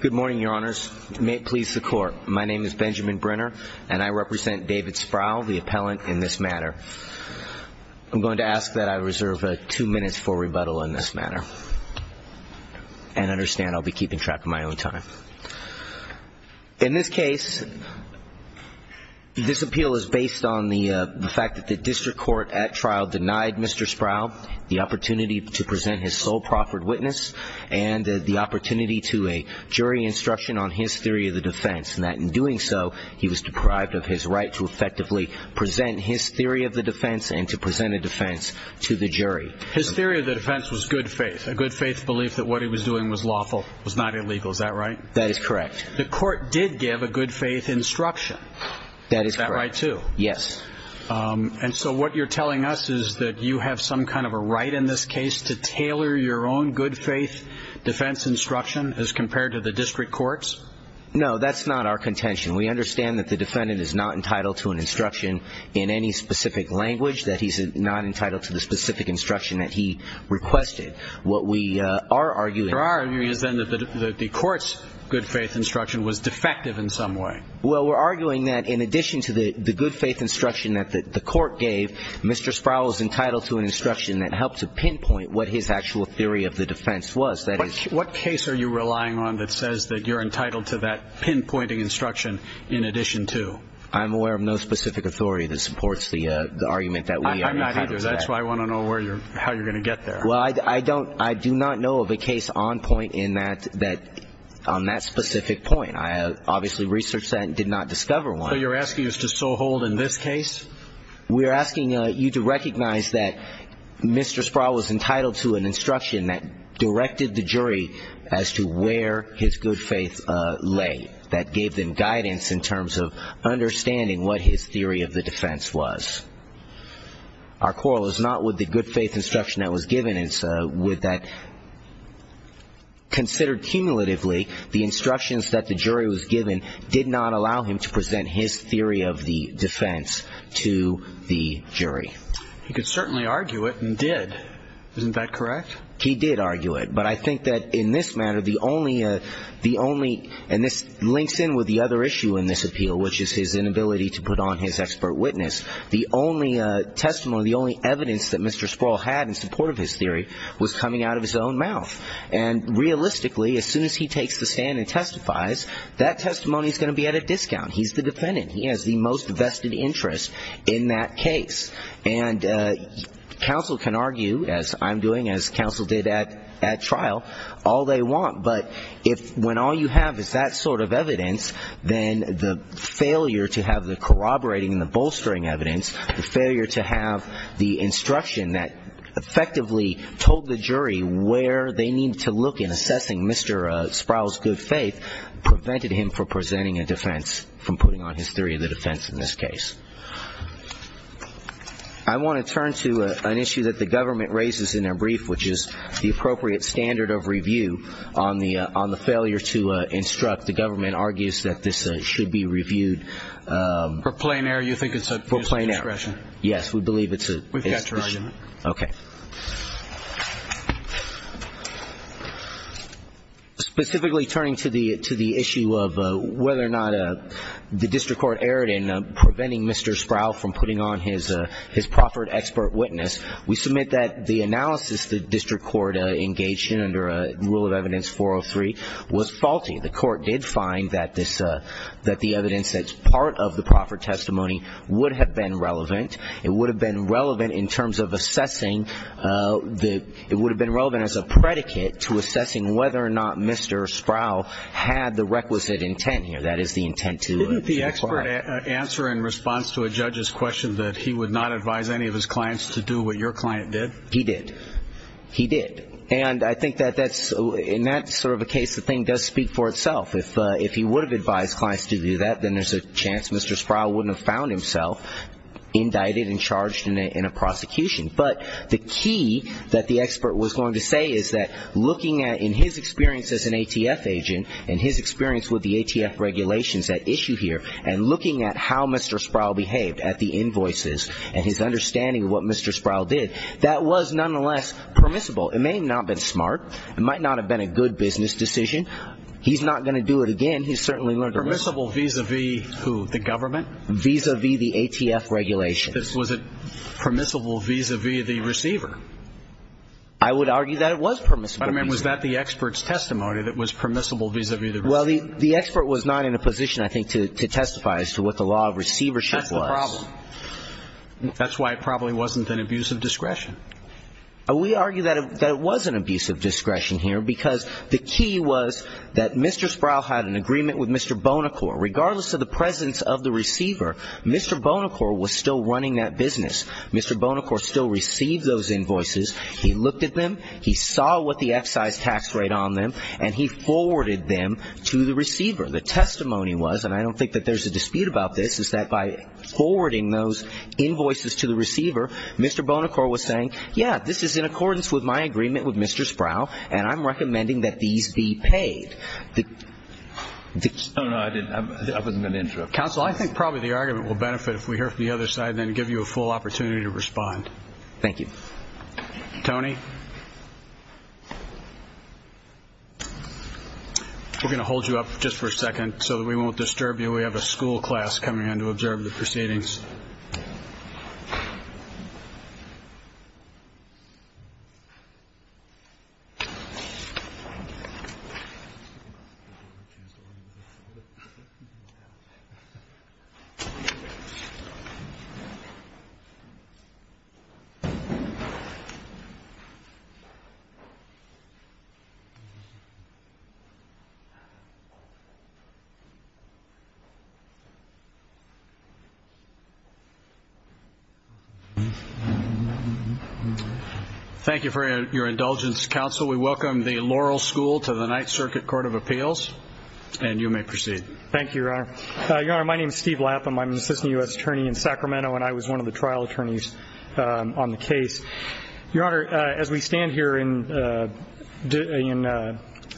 Good morning, your honors. May it please the court. My name is Benjamin Brenner and I represent David Sproul, the appellant in this matter. I'm going to ask that I reserve two minutes for rebuttal in this matter. And understand I'll be keeping track of my own time. In this case, this appeal is based on the fact that the district court at trial denied Mr. Sproul the opportunity to present his sole proffered witness and the opportunity to a jury instruction on his theory of the defense, and that in doing so, he was deprived of his right to effectively present his theory of the defense and to present a defense to the jury. His theory of the defense was good faith, a good faith belief that what he was doing was lawful, was not illegal. Is that right? That is correct. The court did give a good faith instruction. Is that right, too? Yes. And so what you're telling us is that you have some kind of a right in this case to tailor your own good faith defense instruction as compared to the district courts? No, that's not our contention. We understand that the defendant is not entitled to an instruction in any specific language, that he's not entitled to the specific instruction that he requested. What we are arguing is that the court's good faith instruction was defective in some way. Well, we're arguing that in addition to the good faith instruction that the court gave, Mr. Sproul was entitled to an instruction that helped to pinpoint what his actual theory of the defense was. What case are you relying on that says that you're entitled to that pinpointing instruction in addition to? I'm aware of no specific authority that supports the argument that we are entitled to that. I'm not either. That's why I want to know how you're going to get there. Well, I do not know of a case on point on that specific point. I obviously researched that and did not discover one. So you're asking us to so hold in this case? We're asking you to recognize that Mr. Sproul was entitled to an instruction that directed the jury as to where his good faith lay, that gave them guidance in terms of understanding what his theory of the defense was. Our quarrel is not with the good faith instruction that was given. It's with that considered cumulatively, the instructions that the jury was given did not allow him to present his theory of the defense to the jury. He could certainly argue it and did. Isn't that correct? He did argue it. But I think that in this matter, the only the only and this links in with the other issue in this appeal, which is his inability to put on his expert witness. The only testimony, the only evidence that Mr. Sproul had in support of his theory was coming out of his own mouth. And realistically, as soon as he takes the stand and testifies, that testimony is going to be at a discount. He's the defendant. He has the most vested interest in that case. And counsel can argue, as I'm doing, as counsel did at trial, all they want. But if when all you have is that sort of evidence, then the failure to have the corroborating and the the instruction that effectively told the jury where they need to look in assessing Mr. Sproul's good faith prevented him from presenting a defense, from putting on his theory of the defense in this case. I want to turn to an issue that the government raises in their brief, which is the appropriate standard of review on the on the failure to instruct. The government argues that this should be reviewed for plain air. You think it's for plain air? Yes, we believe it's We've got your item. OK. Specifically turning to the to the issue of whether or not the district court erred in preventing Mr. Sproul from putting on his his proffered expert witness, we submit that the analysis the district court engaged in under a rule of evidence 403 was faulty. The court did find that this that the evidence that's part of the proffered testimony would have been relevant. It would have been relevant in terms of assessing that it would have been relevant as a predicate to assessing whether or not Mr. Sproul had the requisite intent here. That is the intent to the expert answer in response to a judge's question that he would not advise any of his clients to do what your client did. He did. He did. And I think that that's in that sort of a case. The thing does speak for itself. If if he would have advised clients to do that, then there's a chance Mr. Sproul wouldn't have found himself indicted and charged in a prosecution. But the key that the expert was going to say is that looking at in his experience as an ATF agent and his experience with the ATF regulations that issue here and looking at how Mr. Sproul behaved at the invoices and his understanding of what Mr. Sproul did, that was nonetheless permissible. It may not have been smart. It might not have been a good business decision. He's not going to do it again. He's certainly learned permissible vis-a-vis who the government vis-a-vis the ATF regulations. Was it permissible vis-a-vis the receiver? I would argue that it was permissible. I mean, was that the expert's testimony that was permissible vis-a-vis? Well, the expert was not in a position, I think, to testify as to what the law of receivership was. That's why it probably wasn't an abuse of discretion. We argue that it was an abuse of discretion here because the key was that Mr. Sproul had an agreement with Mr. Bonacor. Regardless of the presence of the receiver, Mr. Bonacor was still running that business. Mr. Bonacor still received those invoices. He looked at them. He saw what the excise tax rate on them. And he forwarded them to the receiver. The testimony was, and I don't think that there's a dispute about this, is that by forwarding those invoices to the receiver, Mr. Bonacor was saying, yeah, this is in accordance with my agreement with Mr. Sproul and I'm recommending that these be paid. Oh, no, I didn't. I wasn't going to interrupt. Counsel, I think probably the argument will benefit if we hear from the other side and then give you a full opportunity to respond. Thank you. Tony, we're going to hold you up just for a second so that we won't interrupt you. Thank you for your indulgence, counsel. We welcome the Laurel School to the Ninth Circuit Court of Appeals. And you may proceed. Thank you, Your Honor. Your Honor, my name is Steve Lapham. I'm an assistant U.S. attorney in Sacramento and I was one of the trial attorneys on the case. Your Honor, as we stand here in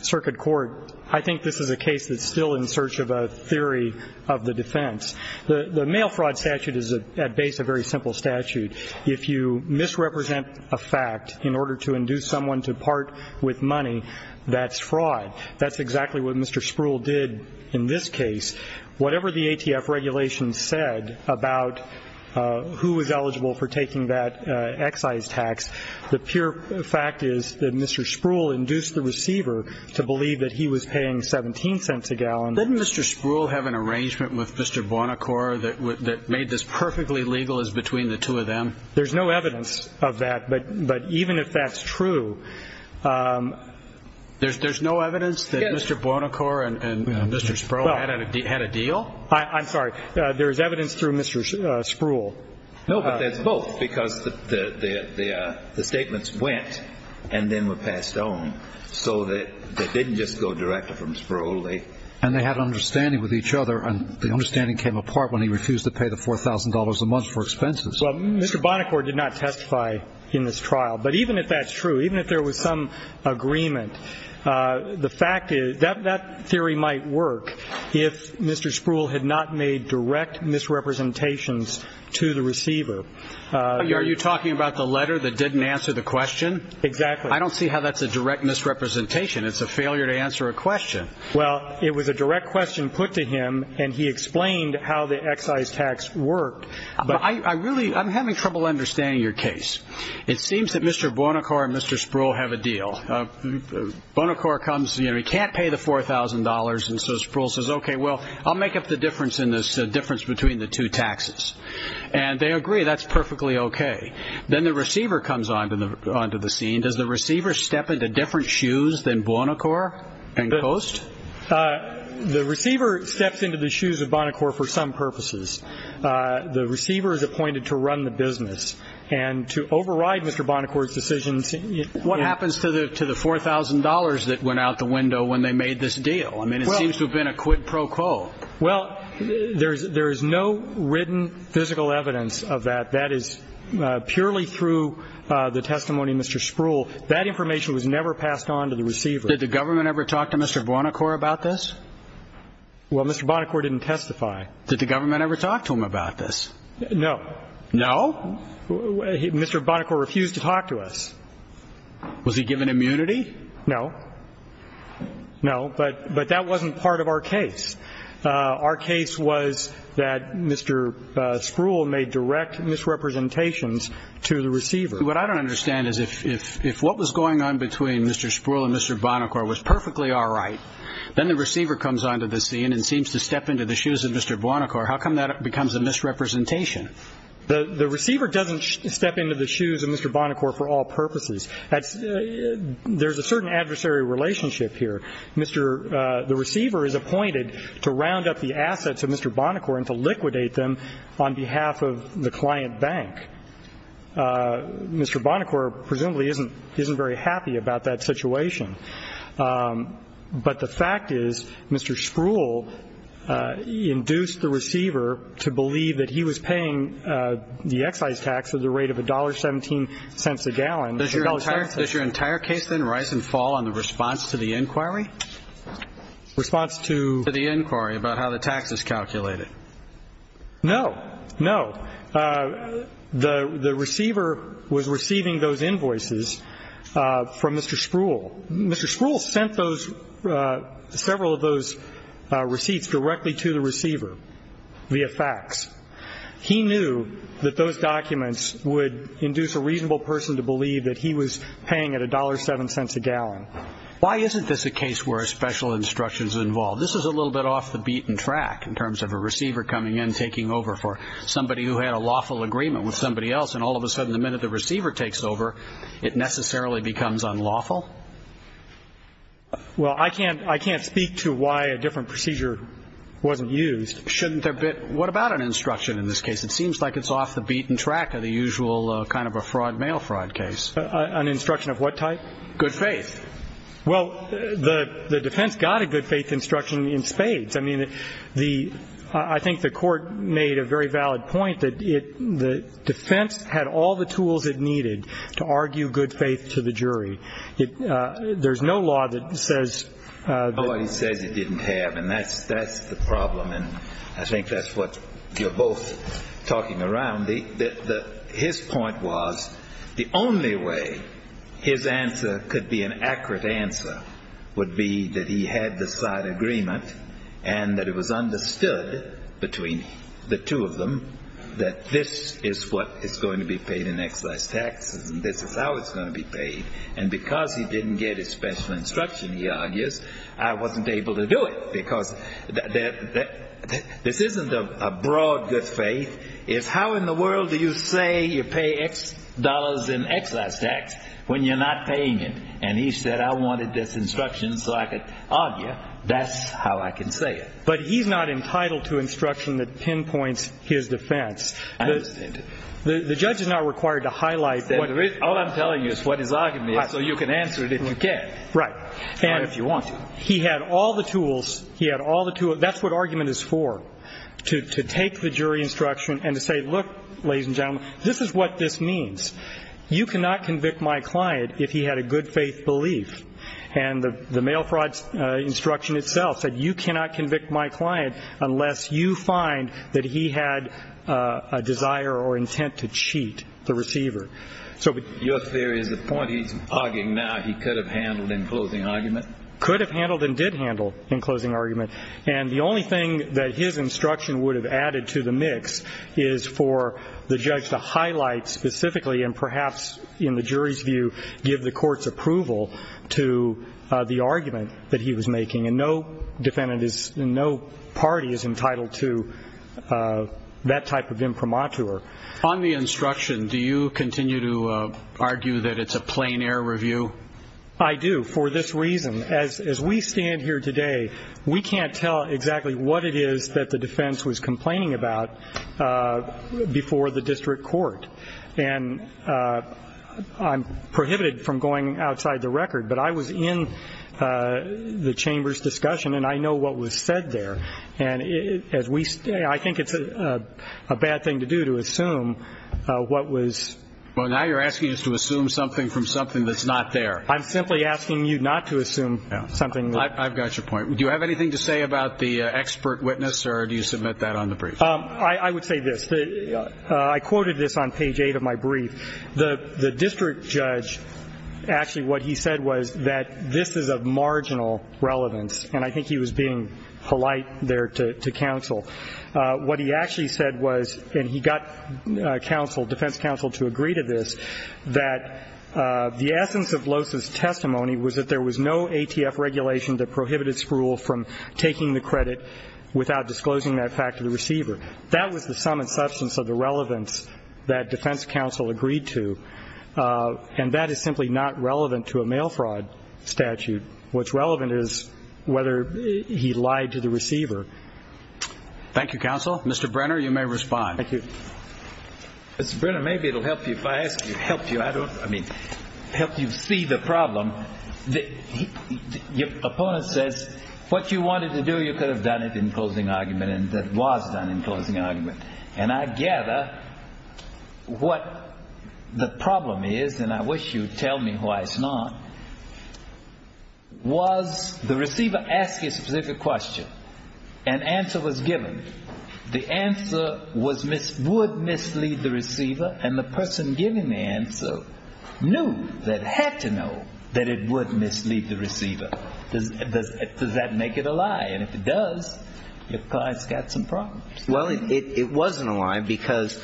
circuit court, I think this is a case that's still in search of a theory of the defense. The mail fraud statute is at base a very simple statute. If you misrepresent a fact in order to induce someone to part with money, that's fraud. That's exactly what Mr. Sproul did in this case. Whatever the ATF regulations said about who was eligible for taking that excise tax, the pure fact is that Mr. Sproul induced the receiver to believe that he was paying 17 cents a gallon. Didn't Mr. Sproul have an arrangement with Mr. Bonacor that made this perfectly legal as between the two of them? There's no evidence of that, but even if that's true... There's no evidence that Mr. Bonacor and Mr. Sproul had a deal? I'm sorry, there is evidence through Mr. Sproul. No, but that's both because the statements went and then were passed on so that they didn't just go directly from Sproul. And they had an understanding with each other, and the understanding came apart when he refused to pay the $4,000 a month for expenses. Well, Mr. Bonacor did not testify in this trial, but even if that's true, even if there was some agreement, the fact is that theory might work if Mr. Sproul had not made direct misrepresentations to the receiver. Are you talking about the letter that didn't answer the question? Exactly. I don't see how that's a direct misrepresentation. It's a failure to answer a question. Well, it was a direct question put to him, and he explained how the excise tax worked. I'm having trouble understanding your case. It seems that Mr. Bonacor and Mr. Sproul have a deal. Bonacor comes, he can't pay the $4,000, and so Sproul says, okay, well, I'll make up the difference between the two taxes. And they agree, that's perfectly okay. Then the receiver comes onto the scene. Does the receiver step into different shoes than Bonacor and Coase? The receiver steps into the shoes of Bonacor for some purposes. The receiver is appointed to run the business, and to override Mr. Bonacor's decisions... What happens to the $4,000 that went out the window when they made this deal? I mean, it seems to have been a quid pro quo. Well, there is no written physical evidence of that. That is purely through the testimony of Mr. Sproul. That information was never passed on to the receiver. Did the government ever talk to Mr. Bonacor about this? Well, Mr. Bonacor didn't testify. Did the government ever talk to him about this? No. No? Mr. Bonacor refused to talk to us. Was he given immunity? No. No, but that wasn't part of our case. Our case was that he refused to testify. So, what I know is that they had some kind of misrepresentation to the receiver. What I don't understand is if what was going on between Mr. Sproul and Mr. Bonacor was perfectly all right, then the receiver comes onto the scene and seems to step into the shoes of Mr. Bonacor. How come that becomes a misrepresentation? The receiver doesn't step into the shoes of Mr. Bonacor for all purposes. There is a certain adversary relationship here. Mr. The receiver is appointed to round up the assets of Mr. Bonacor and to liquidate them on behalf of the client bank. Mr. Bonacor presumably isn't very happy about that situation. But the fact is, Mr. Sproul induced the receiver to believe that he was paying the excise tax at the rate of $1.17 a gallon. Does your entire case then rise and fall on the response to the inquiry? Response to the inquiry about how the tax is calculated? No. No. The receiver was receiving those invoices from Mr. Sproul. Mr. Sproul sent those, several of those receipts directly to the receiver via fax. He knew that those receipts were being sent to Mr. Bonacor. He knew that he was paying at $1.17 a gallon. Why isn't this a case where a special instruction is involved? This is a little bit off the beaten track in terms of a receiver coming in, taking over for somebody who had a lawful agreement with somebody else, and all of a sudden the minute the receiver takes over, it necessarily becomes unlawful? Well, I can't speak to why a different procedure wasn't used. Shouldn't there be? What about an instruction in this case? It seems like it's off the beaten track of the usual kind of a fraud, mail fraud case. An instruction of what type? Good faith. Well, the defense got a good faith instruction in spades. I mean, the – I think the court made a very valid point that it – the defense had all the tools it needed to argue good faith to the jury. It – there's no law that says – Well, he says it didn't have, and that's the problem, and I think that's what you're both talking around. The – his point was the only way his answer could be an accurate answer would be that he had the side agreement and that it was understood between the two of them that this is what is going to be paid in excise taxes and this is how it's going to be paid, and because he didn't get his special instruction, he argues, I wasn't isn't a broad good faith. It's how in the world do you say you pay X dollars in excise tax when you're not paying it, and he said, I wanted this instruction so I could argue. That's how I can say it. But he's not entitled to instruction that pinpoints his defense. I understand it. The judge is not required to highlight that – All I'm telling you is what his argument is so you can answer it if you can. Right. And – Or if you want to. He had all the tools. He had all the tools. That's what argument is for, to take the jury instruction and to say, look, ladies and gentlemen, this is what this means. You cannot convict my client if he had a good faith belief, and the mail fraud instruction itself said you cannot convict my client unless you find that he had a desire or intent to cheat the receiver. So – Your theory is the point he's arguing now he could have handled in closing argument? Could have handled and did handle in closing argument. And the only thing that his instruction would have added to the mix is for the judge to highlight specifically and perhaps, in the jury's view, give the court's approval to the argument that he was making. And no defendant is – and no party is entitled to that type of imprimatur. On the instruction, do you continue to argue that it's a plain air review? I do, for this reason. As we stand here today, we can't tell exactly what it is that the defense was complaining about before the district court. And I'm prohibited from going outside the record, but I was in the chamber's discussion, and I know what was said there. And as we – I think it's a bad thing to do to assume what was – Well, now you're asking us to assume something from something that's not there. I'm simply asking you not to assume something that's not there. I've got your point. Do you have anything to say about the expert witness, or do you submit that on the brief? I would say this. I quoted this on page 8 of my brief. The district judge, actually what he said was that this is of marginal relevance. And I think he was being polite there to counsel. What he actually said was, and he got counsel, defense counsel to agree to this, that the essence of Losa's testimony was that there was no ATF regulation that prohibited Spruill from taking the credit without disclosing that fact to the receiver. That was the sum and substance of the relevance that defense counsel agreed to. And that is simply not relevant to a mail fraud statute. What's relevant is whether he lied to the receiver. Thank you, counsel. Mr. Brenner, you may respond. Thank you. Mr. Brenner, maybe it will help you if I ask you – help you, I don't – I mean, help you see the problem. Your opponent says what you wanted to do, you could have done it in closing argument, and that was done in closing argument. And I gather what the problem is, and I wish you'd tell me why it's not, was the receiver asked you a specific question, an answer was given, the answer was – would mislead the receiver, and the person giving the answer knew, had to know, that it would mislead the receiver. Does that make it a lie? And if it does, your client's got some problems. Well, it wasn't a lie, because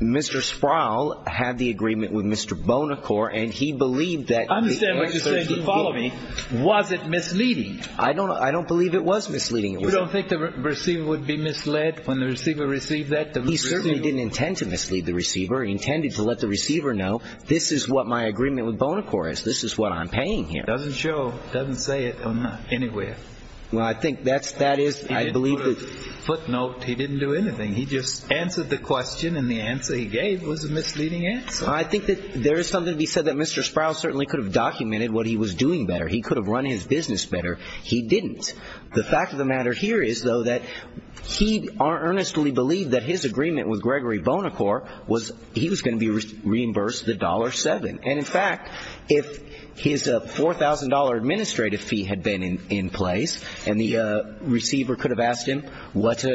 Mr. Sproul had the agreement with Mr. Bonacor, and he believed that – I understand what you're saying, but follow me. Was it misleading? I don't – I don't believe it was misleading. You don't think the receiver would be misled when the receiver received that? He certainly didn't intend to mislead the receiver. He intended to let the receiver know, this is what my agreement with Bonacor is. This is what I'm paying him. Doesn't show – doesn't say it anywhere. Well, I think that's – that is – I believe that – footnote, he didn't do anything. He just answered the question, and the answer he gave was a misleading answer. I think that there is something to be said that Mr. Sproul certainly could have documented what he was doing better. He could have run his business better. He didn't. The fact of the matter here is, though, that he earnestly believed that his agreement with Gregory Bonacor was – he was going to be reimbursed the dollar seven. And in fact, if his $4,000 administrative fee had been in – in place, and the receiver could have asked him, what –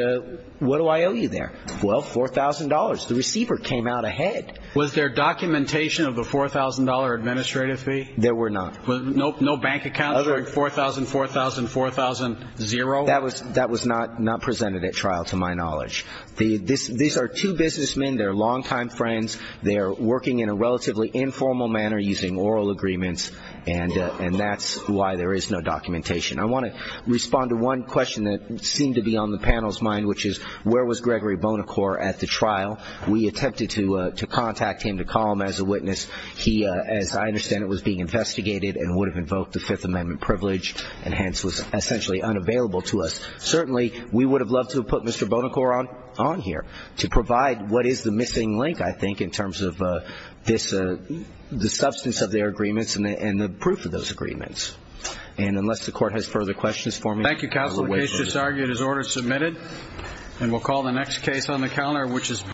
what do I owe you there? Well, $4,000. The receiver came out ahead. Was there documentation of the $4,000 administrative fee? There were not. No bank account? Other – $4,000, $4,000, $4,000, zero? That was – that was not – not presented at trial, to my knowledge. The – this – these are two businessmen. They're longtime friends. They're working in a relatively informal manner using oral agreements, and – and that's why there is no documentation. I want to respond to one question that seemed to be on the panel's mind, which is, where was Gregory Bonacor at the trial? We attempted to – to contact him, to call him as a witness. He, as I understand it, was being investigated and would have invoked the Fifth Amendment privilege and hence was essentially unavailable to us. Certainly we would have loved to have put Mr. Bonacor on – on here to provide what is the missing link, I think, in terms of this – the substance of their agreements and the – and the proof of those agreements. And unless the Court has further questions for me – Thank you, counsel. The case just argued is order submitted, and we'll call the next case on the calendar, which is –